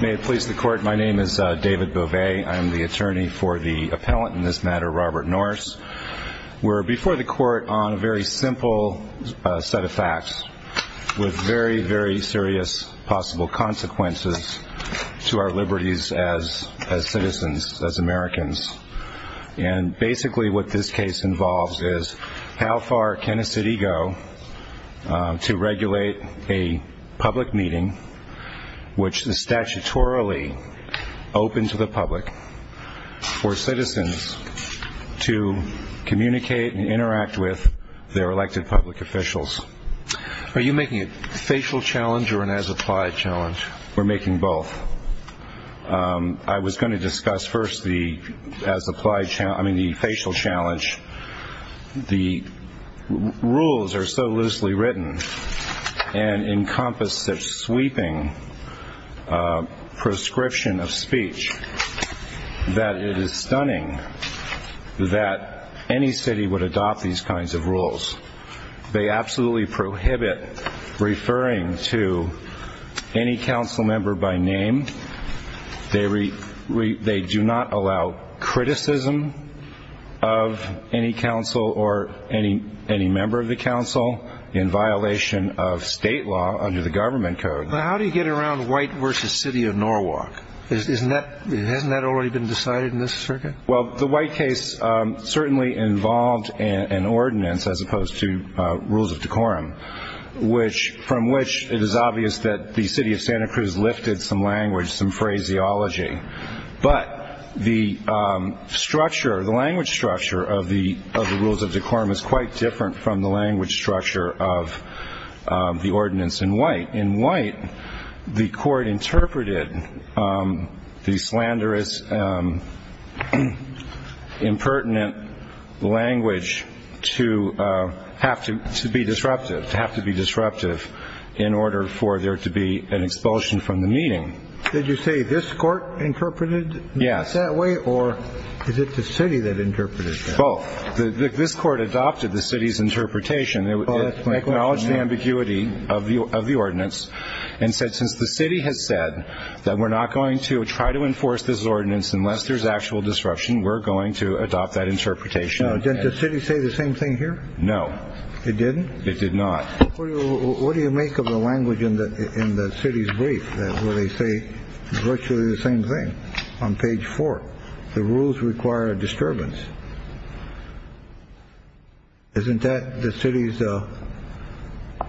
May it please the court. My name is David Bovet. I am the attorney for the appellant in this matter, Robert Norse We're before the court on a very simple set of facts with very very serious possible consequences to our liberties as as citizens as Americans and Basically what this case involves is how far can a city go? to regulate a public meeting Which is statutorily open to the public for citizens to communicate and interact with their elected public officials Are you making a facial challenge or an as-applied challenge? We're making both I was going to discuss first the as-applied challenge. I mean the facial challenge the rules are so loosely written and Encompasses sweeping Prescription of speech That it is stunning That any city would adopt these kinds of rules They absolutely prohibit referring to Any council member by name? They read they do not allow criticism of Any council or any any member of the council in violation of state law under the government code Well, how do you get around white versus City of Norwalk? Isn't that hasn't that already been decided in this circuit? Well the white case Certainly involved an ordinance as opposed to rules of decorum which from which it is obvious that the city of Santa Cruz lifted some language some phraseology, but the Structure the language structure of the of the rules of decorum is quite different from the language structure of the ordinance in white in white the court interpreted the slanderous Impertinent language to Have to be disruptive to have to be disruptive in order for there to be an expulsion from the meeting Did you say this court interpreted yes that way or is it the city that interpreted Oh the this court adopted the city's interpretation They would acknowledge the ambiguity of the of the ordinance and said since the city has said That we're not going to try to enforce this ordinance unless there's actual disruption. We're going to adopt that interpretation Oh, did the city say the same thing here? No, it didn't it did not What do you make of the language in the in the city's brief where they say Virtually the same thing on page four the rules require a disturbance Isn't that the city's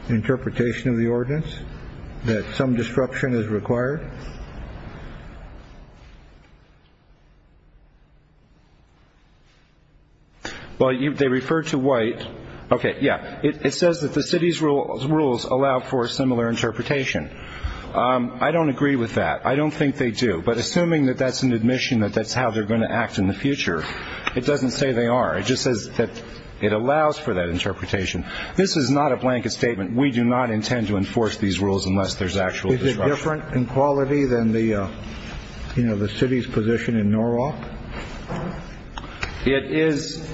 Interpretation of the ordinance that some disruption is required Well You they refer to white okay. Yeah, it says that the city's rules rules allow for a similar interpretation I don't agree with that I don't think they do but assuming that that's an admission that that's how they're going to act in the future It doesn't say they are it just says that it allows for that interpretation. This is not a blanket statement we do not intend to enforce these rules unless there's actual different in quality than the You know the city's position in Norwalk It is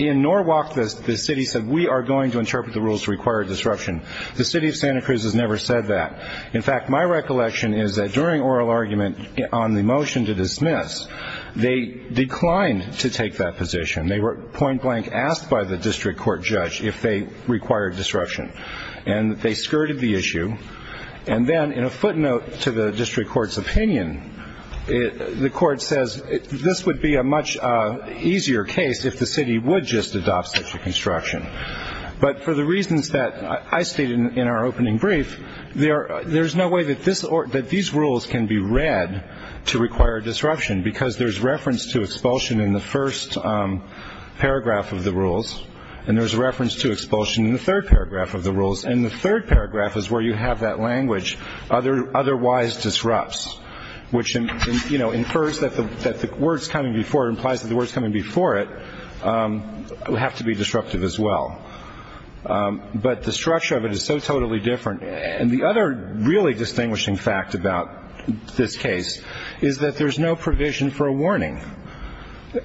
In Norwalk this the city said we are going to interpret the rules to require disruption The city of Santa Cruz has never said that in fact My recollection is that during oral argument on the motion to dismiss? They declined to take that position. They were point-blank asked by the district court judge if they required disruption And they skirted the issue and then in a footnote to the district court's opinion The court says this would be a much Easier case if the city would just adopt such a construction But for the reasons that I stated in our opening brief There there's no way that this or that these rules can be read to require disruption because there's reference to expulsion in the first Paragraph of the rules and there's a reference to expulsion in the third paragraph of the rules and the third paragraph is where you have that language other otherwise Disrupts which in you know infers that the that the words coming before it implies that the words coming before it Will have to be disruptive as well But the structure of it is so totally different and the other really distinguishing fact about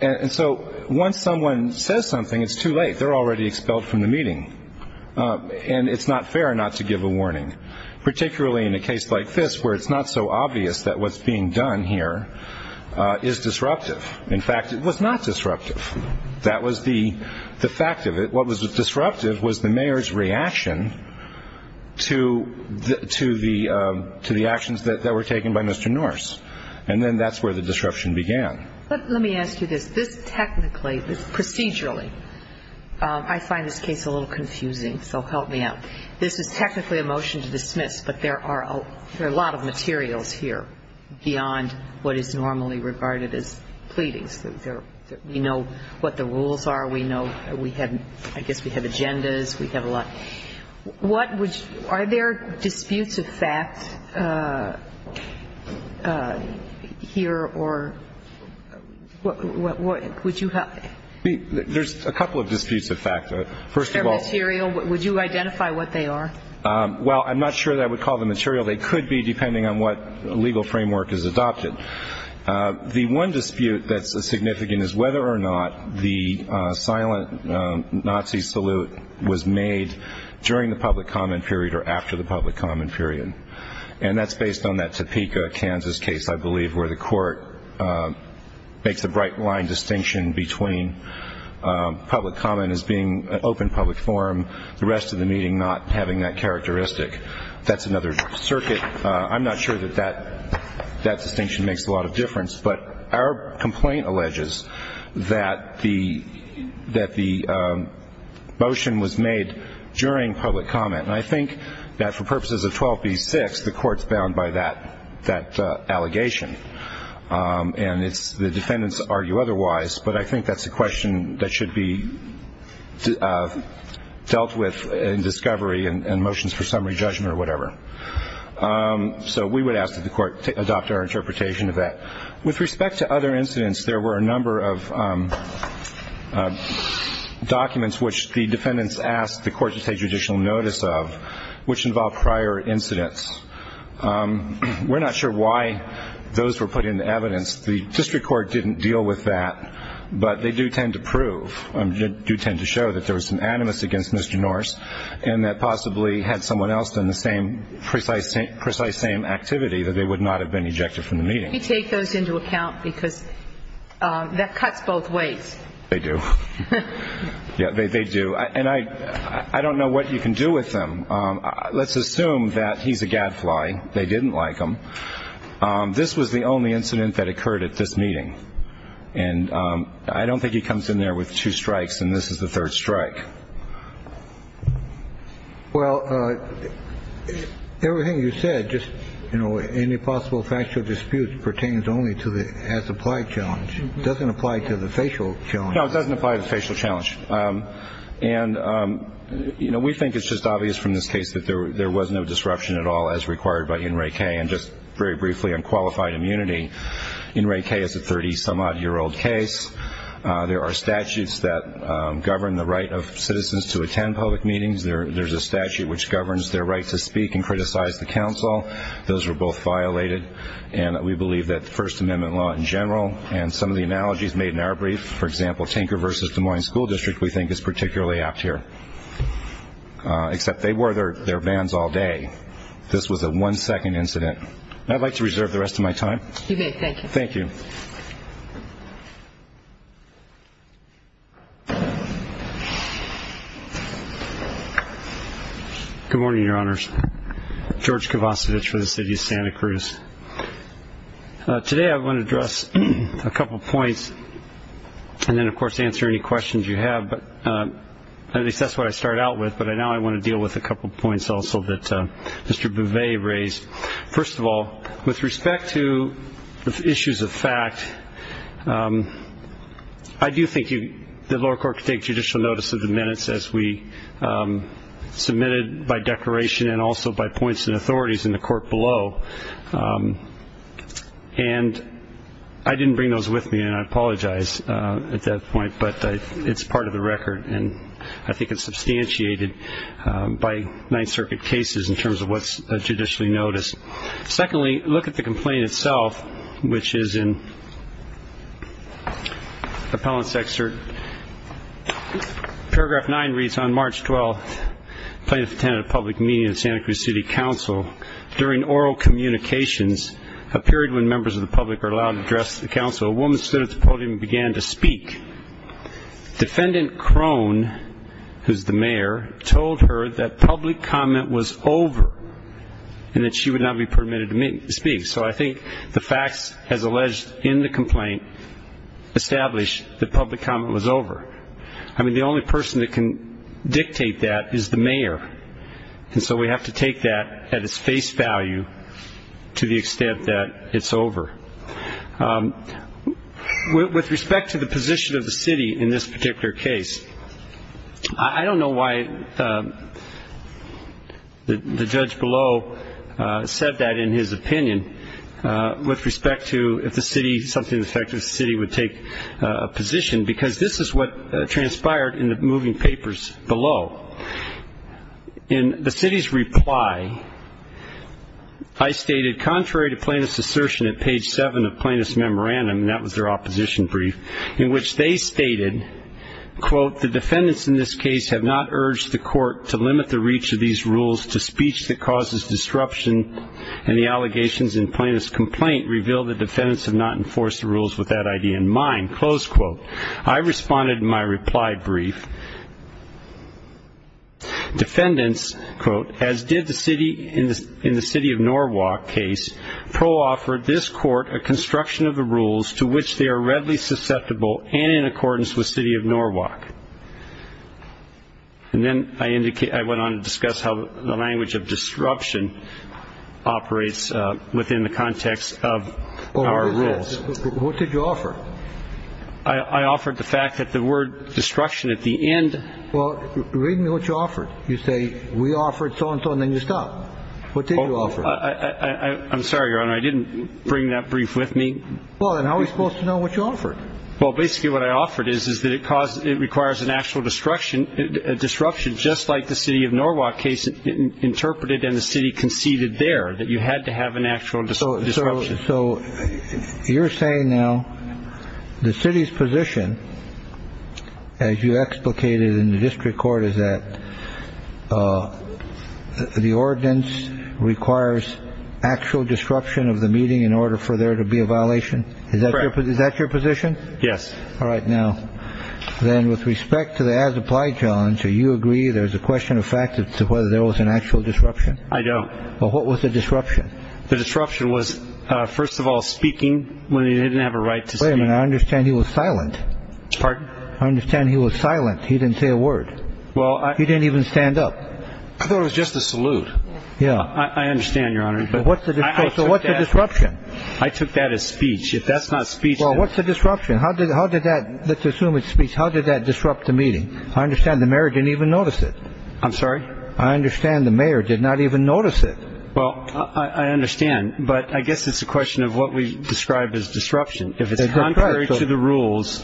And so once someone says something it's too late they're already expelled from the meeting And it's not fair not to give a warning Particularly in a case like this where it's not so obvious that what's being done here Is disruptive in fact it was not disruptive that was the the fact of it. What was the disruptive was the mayor's reaction? to To the to the actions that were taken by mr. Norris, and then that's where the disruption began Let me ask you this this technically this procedurally I find this case a little confusing so help me out This is technically a motion to dismiss, but there are a lot of materials here beyond what is normally regarded as pleading So there you know what the rules are we know we had I guess we have agendas. We have a lot What would are there disputes of fact? Here or What would you have there's a couple of disputes of fact first of all cereal would you identify what they are Well, I'm not sure that I would call the material. They could be depending on what legal framework is adopted The one dispute that's a significant is whether or not the silent Nazi salute was made during the public comment period or after the public comment period And that's based on that Topeka, Kansas case. I believe where the court makes a bright line distinction between Public comment as being an open public forum the rest of the meeting not having that characteristic. That's another circuit I'm not sure that that that distinction makes a lot of difference, but our complaint alleges that the that the Motion was made during public comment, and I think that for purposes of 12b6 the courts bound by that that allegation And it's the defendants argue otherwise, but I think that's a question that should be Dealt with in discovery and motions for summary judgment or whatever So we would ask that the court to adopt our interpretation of that with respect to other incidents. There were a number of Documents which the defendants asked the court to take judicial notice of which involved prior incidents We're not sure why those were put into evidence the district court didn't deal with that But they do tend to prove and do tend to show that there was some animus against mr. Norris and that possibly had someone else than the same precise same precise same activity that they would not have been ejected from the meeting you take those into account because That cuts both ways they do Yeah, they do and I I don't know what you can do with them. Let's assume that he's a gadfly. They didn't like him this was the only incident that occurred at this meeting and I don't think he comes in there with two strikes and this is the third strike Well Everything you said just you know Any possible factual dispute pertains only to the has applied challenge doesn't apply to the facial. No, it doesn't apply to the facial challenge and You know We think it's just obvious from this case that there was no disruption at all as required by in Ray K and just very briefly unqualified immunity in Ray K is a 30 some odd year old case There are statutes that govern the right of citizens to attend public meetings There's a statute which governs their right to speak and criticize the council Those were both violated and we believe that the First Amendment law in general and some of the analogies made in our brief For example Tinker versus Des Moines School District. We think is particularly apt here Except they were there their vans all day. This was a one-second incident. I'd like to reserve the rest of my time Thank you Good morning, your honors George Kovacs of itch for the city of Santa Cruz Today I want to address a couple points and then of course answer any questions you have but At least that's what I started out with but I now I want to deal with a couple points also that mr Bouvier raised first of all with respect to the issues of fact I do think you the lower court could take judicial notice of the minutes as we Submitted by declaration and also by points and authorities in the court below And I Didn't bring those with me and I apologize at that point, but it's part of the record and I think it's substantiated by Ninth Circuit cases in terms of what's a judicially noticed secondly look at the complaint itself, which is in Appellants excerpt Paragraph 9 reads on March 12th plaintiff attended a public meeting in Santa Cruz City Council during oral Communications a period when members of the public are allowed to address the council a woman stood at the podium began to speak defendant Crone Who's the mayor told her that public comment was over? And that she would not be permitted to meet to speak. So I think the facts has alleged in the complaint Established the public comment was over. I mean the only person that can dictate that is the mayor And so we have to take that at its face value To the extent that it's over With respect to the position of the city in this particular case, I don't know why The judge below Said that in his opinion With respect to if the city something effective city would take a position because this is what transpired in the moving papers below in the city's reply I Stated contrary to plaintiff's assertion at page 7 of plaintiff's memorandum. That was their opposition brief in which they stated Quote the defendants in this case have not urged the court to limit the reach of these rules to speech that causes Disruption and the allegations in plaintiff's complaint revealed the defendants have not enforced the rules with that idea in mind close quote I responded in my reply brief Defendants quote as did the city in this in the city of Norwalk case Pro-offered this court a construction of the rules to which they are readily susceptible and in accordance with city of Norwalk And then I indicate I went on to discuss how the language of disruption operates within the context of What did you offer I Offered the fact that the word destruction at the end. Well, read me what you offered You say we offered so-and-so and then you stop. What did you offer? I I'm sorry, your honor. I didn't bring that brief with me. Well, then how are we supposed to know what you offered? Well, basically what I offered is is that it caused it requires an actual destruction Disruption just like the city of Norwalk case Interpreted and the city conceded there that you had to have an actual disorder. So You're saying now the city's position as you explicated in the district court is that The ordinance requires Actual disruption of the meeting in order for there to be a violation. Is that is that your position? Yes. All right now Then with respect to the as-applied challenge, do you agree? There's a question of fact it's whether there was an actual disruption. I don't know What was the disruption the disruption was first of all speaking when he didn't have a right to say I understand he was silent Pardon, I understand. He was silent. He didn't say a word. Well, I didn't even stand up. I thought it was just a salute Yeah, I understand your honor, but what's the disruption I took that as speech if that's not speech Well, what's the disruption? How did how did that let's assume it speaks? How did that disrupt the meeting? I understand the marriage didn't even notice it. I'm sorry. I understand the mayor did not even notice it Well, I understand but I guess it's a question of what we've described as disruption if it's contrary to the rules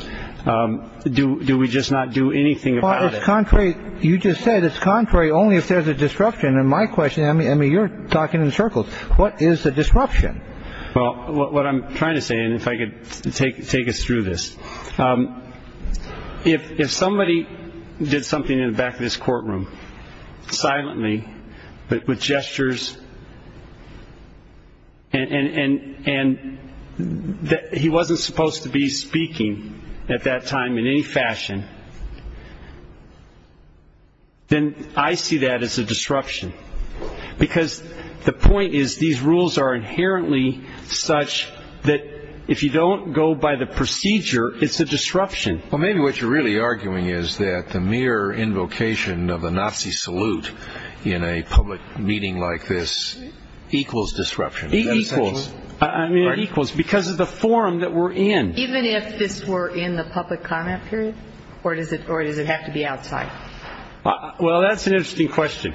Do do we just not do anything about it contrary? You just said it's contrary only if there's a disruption and my question I mean, I mean you're talking in circles What is the disruption? Well what I'm trying to say and if I could take take us through this If if somebody did something in the back of this courtroom silently but with gestures and and and That he wasn't supposed to be speaking at that time in any fashion Then I see that as a disruption Because the point is these rules are inherently such that if you don't go by the procedure It's a disruption Well, maybe what you're really arguing is that the mere invocation of the Nazi salute in a public meeting like this equals disruption Equals because of the forum that we're in even if this were in the public comment period or does it or does it have to? outside well, that's an interesting question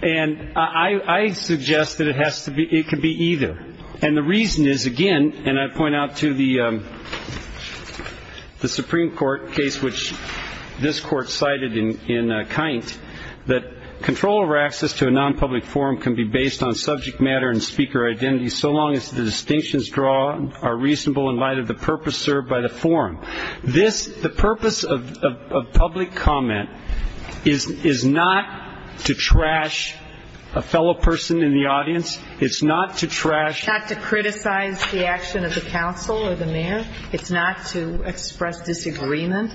and I suggest that it has to be it could be either and the reason is again, and I point out to the The Supreme Court case which this court cited in in a kind that Control over access to a non-public forum can be based on subject matter and speaker identity So long as the distinctions draw are reasonable in light of the purpose served by the forum this the purpose of Public comment is is not to trash a fellow person in the audience It's not to trash not to criticize the action of the council or the mayor. It's not to express disagreement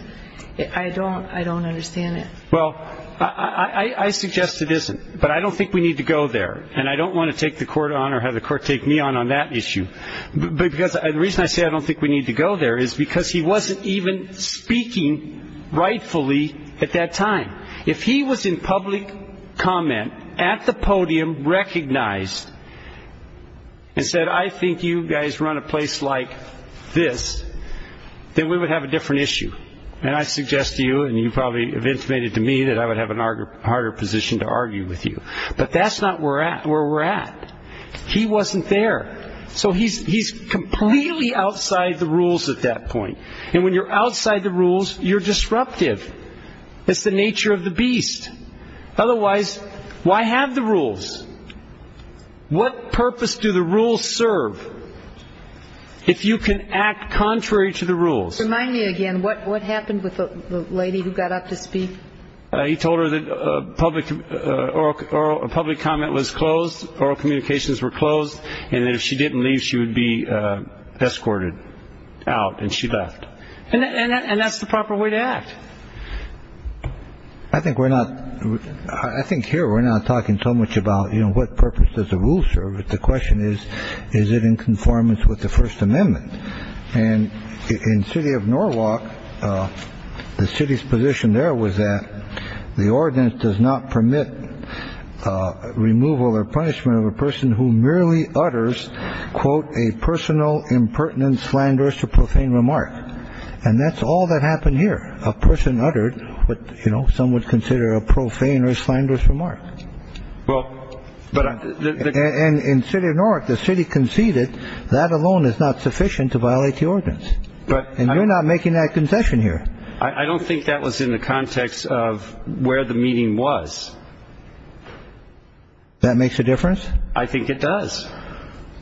I don't I don't understand it. Well, I Suggest it isn't but I don't think we need to go there and I don't want to take the court on or have the court Take me on on that issue Because the reason I say I don't think we need to go there is because he wasn't even speaking Rightfully at that time if he was in public comment at the podium recognized And said I think you guys run a place like this Then we would have a different issue And I suggest to you and you probably have intimated to me that I would have an argument harder position to argue with you But that's not we're at where we're at He wasn't there So he's he's completely outside the rules at that point and when you're outside the rules you're disruptive It's the nature of the beast Otherwise, why have the rules? What purpose do the rules serve? If you can act contrary to the rules remind me again, what what happened with the lady who got up to speak? He told her that public Or a public comment was closed oral communications were closed and if she didn't leave she would be Escorted out and she left and that's the proper way to act. I Think we're not I think here we're not talking so much about you know What purpose does the rule serve it? The question is is it in conformance with the First Amendment and in city of Norwalk The city's position there was that the ordinance does not permit Removal or punishment of a person who merely utters Quote a personal impertinent slanderous or profane remark and that's all that happened here a person uttered But you know some would consider a profane or slanderous remark well, but And in city of Norwalk the city conceded that alone is not sufficient to violate the ordinance But and I'm not making that concession here, I don't think that was in the context of where the meeting was That makes a difference I think it does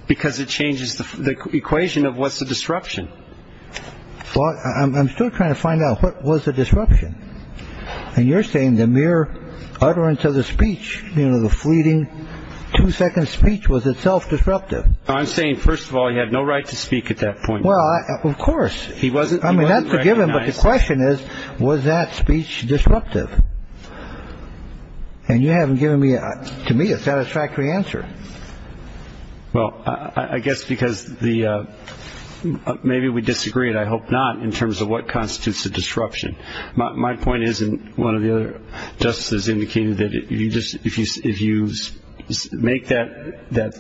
Because it changes the equation of what's the disruption? Well, I'm still trying to find out. What was the disruption? And you're saying the mere utterance of the speech, you know, the fleeting Two-second speech was itself disruptive. I'm saying first of all, you have no right to speak at that point Well, of course, he wasn't I mean that's a given but the question is was that speech disruptive? And you haven't given me to me a satisfactory answer well, I guess because the Maybe we disagreed. I hope not in terms of what constitutes the disruption. My point isn't one of the other Justice indicated that if you just if you if you Make that that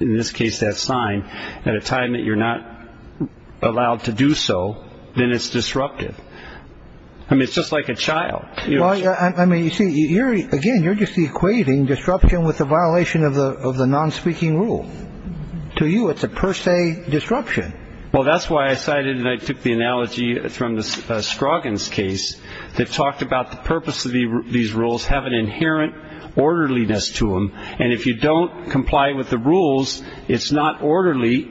in this case that sign at a time that you're not Allowed to do so then it's disruptive. I Mean, it's just like a child. Yeah, I mean you see here again You're just equating disruption with the violation of the of the non-speaking rule To you it's a per se disruption. Well, that's why I cited and I took the analogy from the Straughan's case that talked about the purpose of these rules have an inherent Orderliness to them and if you don't comply with the rules, it's not orderly.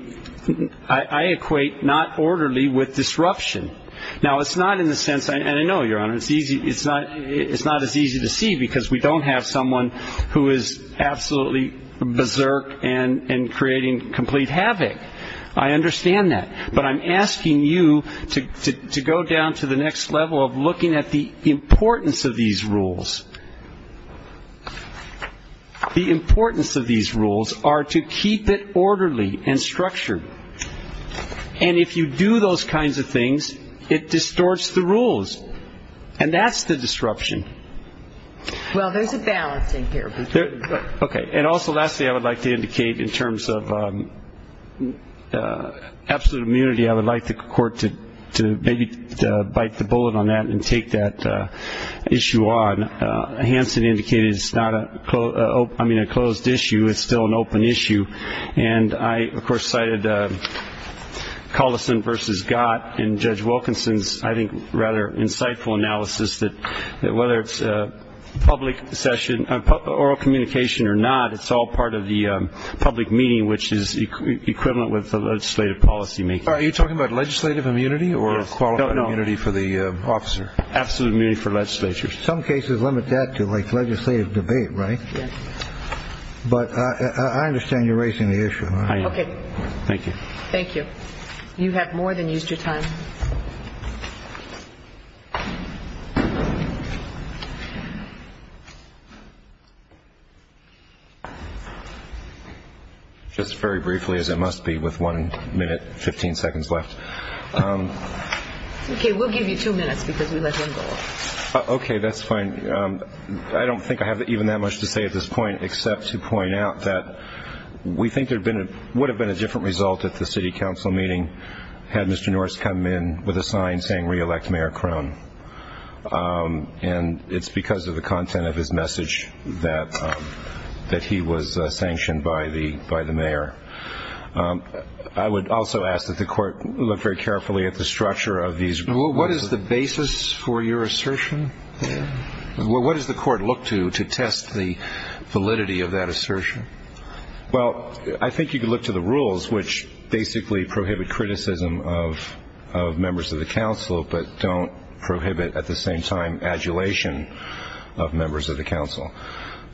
I Equate not orderly with disruption now. It's not in the sense. I know your honor. It's easy It's not it's not as easy to see because we don't have someone who is absolutely Berserk and and creating complete havoc. I Understand that but I'm asking you to go down to the next level of looking at the importance of these rules The importance of these rules are to keep it orderly and structured And if you do those kinds of things it distorts the rules and that's the disruption Well, there's a balance in here. Okay, and also lastly I would like to indicate in terms of Absolute immunity. I would like the court to to maybe bite the bullet on that and take that issue on Hansen indicated it's not a I mean a closed issue. It's still an open issue and I of course cited Collison versus got and judge Wilkinson's I think rather insightful analysis that whether it's a public session Oral communication or not, it's all part of the public meeting which is Equivalent with the legislative policy make are you talking about legislative immunity or a quality for the officer? Absolutely for legislature some cases limit that to like legislative debate, right? But I understand you're raising the issue. Okay. Thank you. Thank you. You have more than used your time Just Very briefly as it must be with one minute 15 seconds left Okay, that's fine, I don't think I have even that much to say at this point except to point out that We think there'd been it would have been a different result at the City Council meeting Had mr. Norris come in with a sign saying re-elect mayor crown And it's because of the content of his message that That he was sanctioned by the by the mayor I would also ask that the court look very carefully at the structure of these. What is the basis for your assertion? What does the court look to to test the validity of that assertion? well, I think you could look to the rules which basically prohibit criticism of Members of the council, but don't prohibit at the same time adulation of members of the council.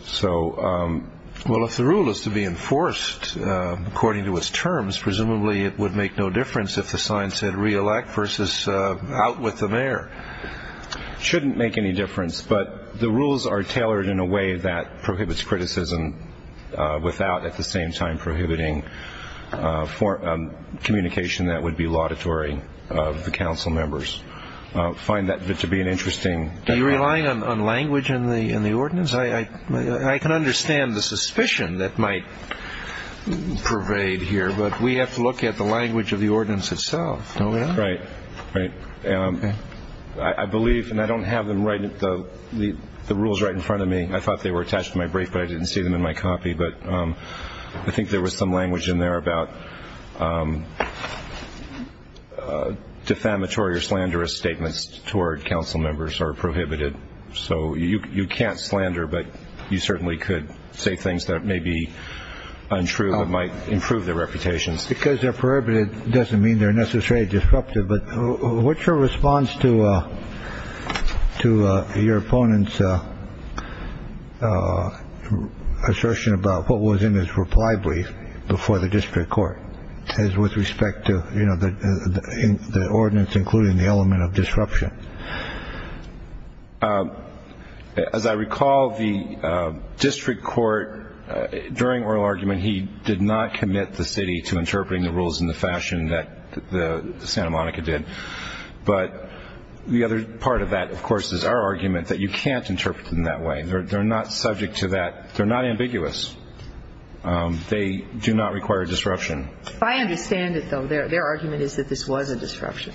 So Well, if the rule is to be enforced According to its terms presumably it would make no difference if the sign said re-elect versus out with the mayor Shouldn't make any difference, but the rules are tailored in a way that prohibits criticism without at the same time prohibiting for Communication that would be laudatory of the council members Find that to be an interesting. Do you rely on language in the in the ordinance? I I can understand the suspicion that might Pervade here, but we have to look at the language of the ordinance itself. Oh, right, right Yeah, I believe and I don't have them right at the the the rules right in front of me I thought they were attached to my brief, but I didn't see them in my copy. But I think there was some language in there about Defamatory Defamatory or slanderous statements toward council members are prohibited So you can't slander but you certainly could say things that may be Untrue that might improve their reputations because they're prohibited doesn't mean they're necessarily disruptive. But what's your response to? to your opponents Assertion Assertion about what was in his reply brief before the district court says with respect to you know, the ordinance including the element of disruption As I recall the district court During oral argument. He did not commit the city to interpreting the rules in the fashion that the Santa Monica did But the other part of that, of course is our argument that you can't interpret in that way They're not subject to that. They're not ambiguous They do not require disruption. I understand it though. Their argument is that this was a disruption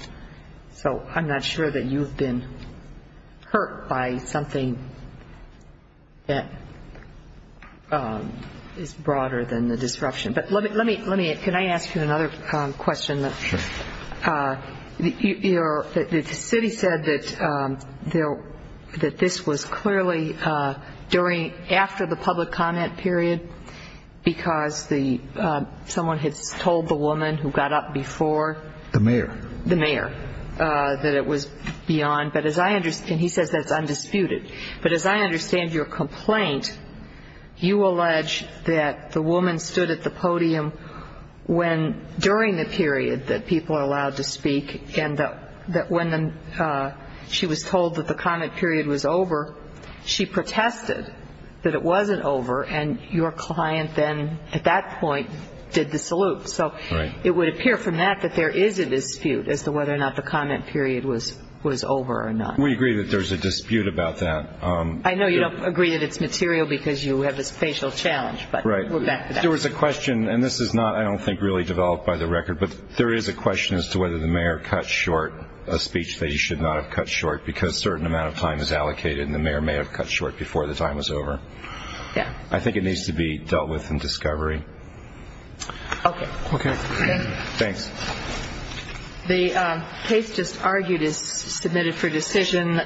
So I'm not sure that you've been hurt by something that Is broader than the disruption, but let me let me let me can I ask you another question that You know that the city said that They'll that this was clearly during after the public comment period because the Someone had told the woman who got up before the mayor the mayor That it was beyond but as I understand he says that's undisputed, but as I understand your complaint You allege that the woman stood at the podium When during the period that people are allowed to speak and that when She was told that the comment period was over She protested that it wasn't over and your client then at that point did the salute So it would appear from that that there is a dispute as to whether or not the comment period was was over or not We agree that there's a dispute about that. I know you don't agree that it's material because you have this facial challenge There was a question and this is not I don't think really developed by the record but there is a question as to whether the mayor cut short a Speech that you should not have cut short because certain amount of time is allocated and the mayor may have cut short before the time Was over. Yeah, I think it needs to be dealt with in discovery Okay Thanks The case just argued is submitted for decision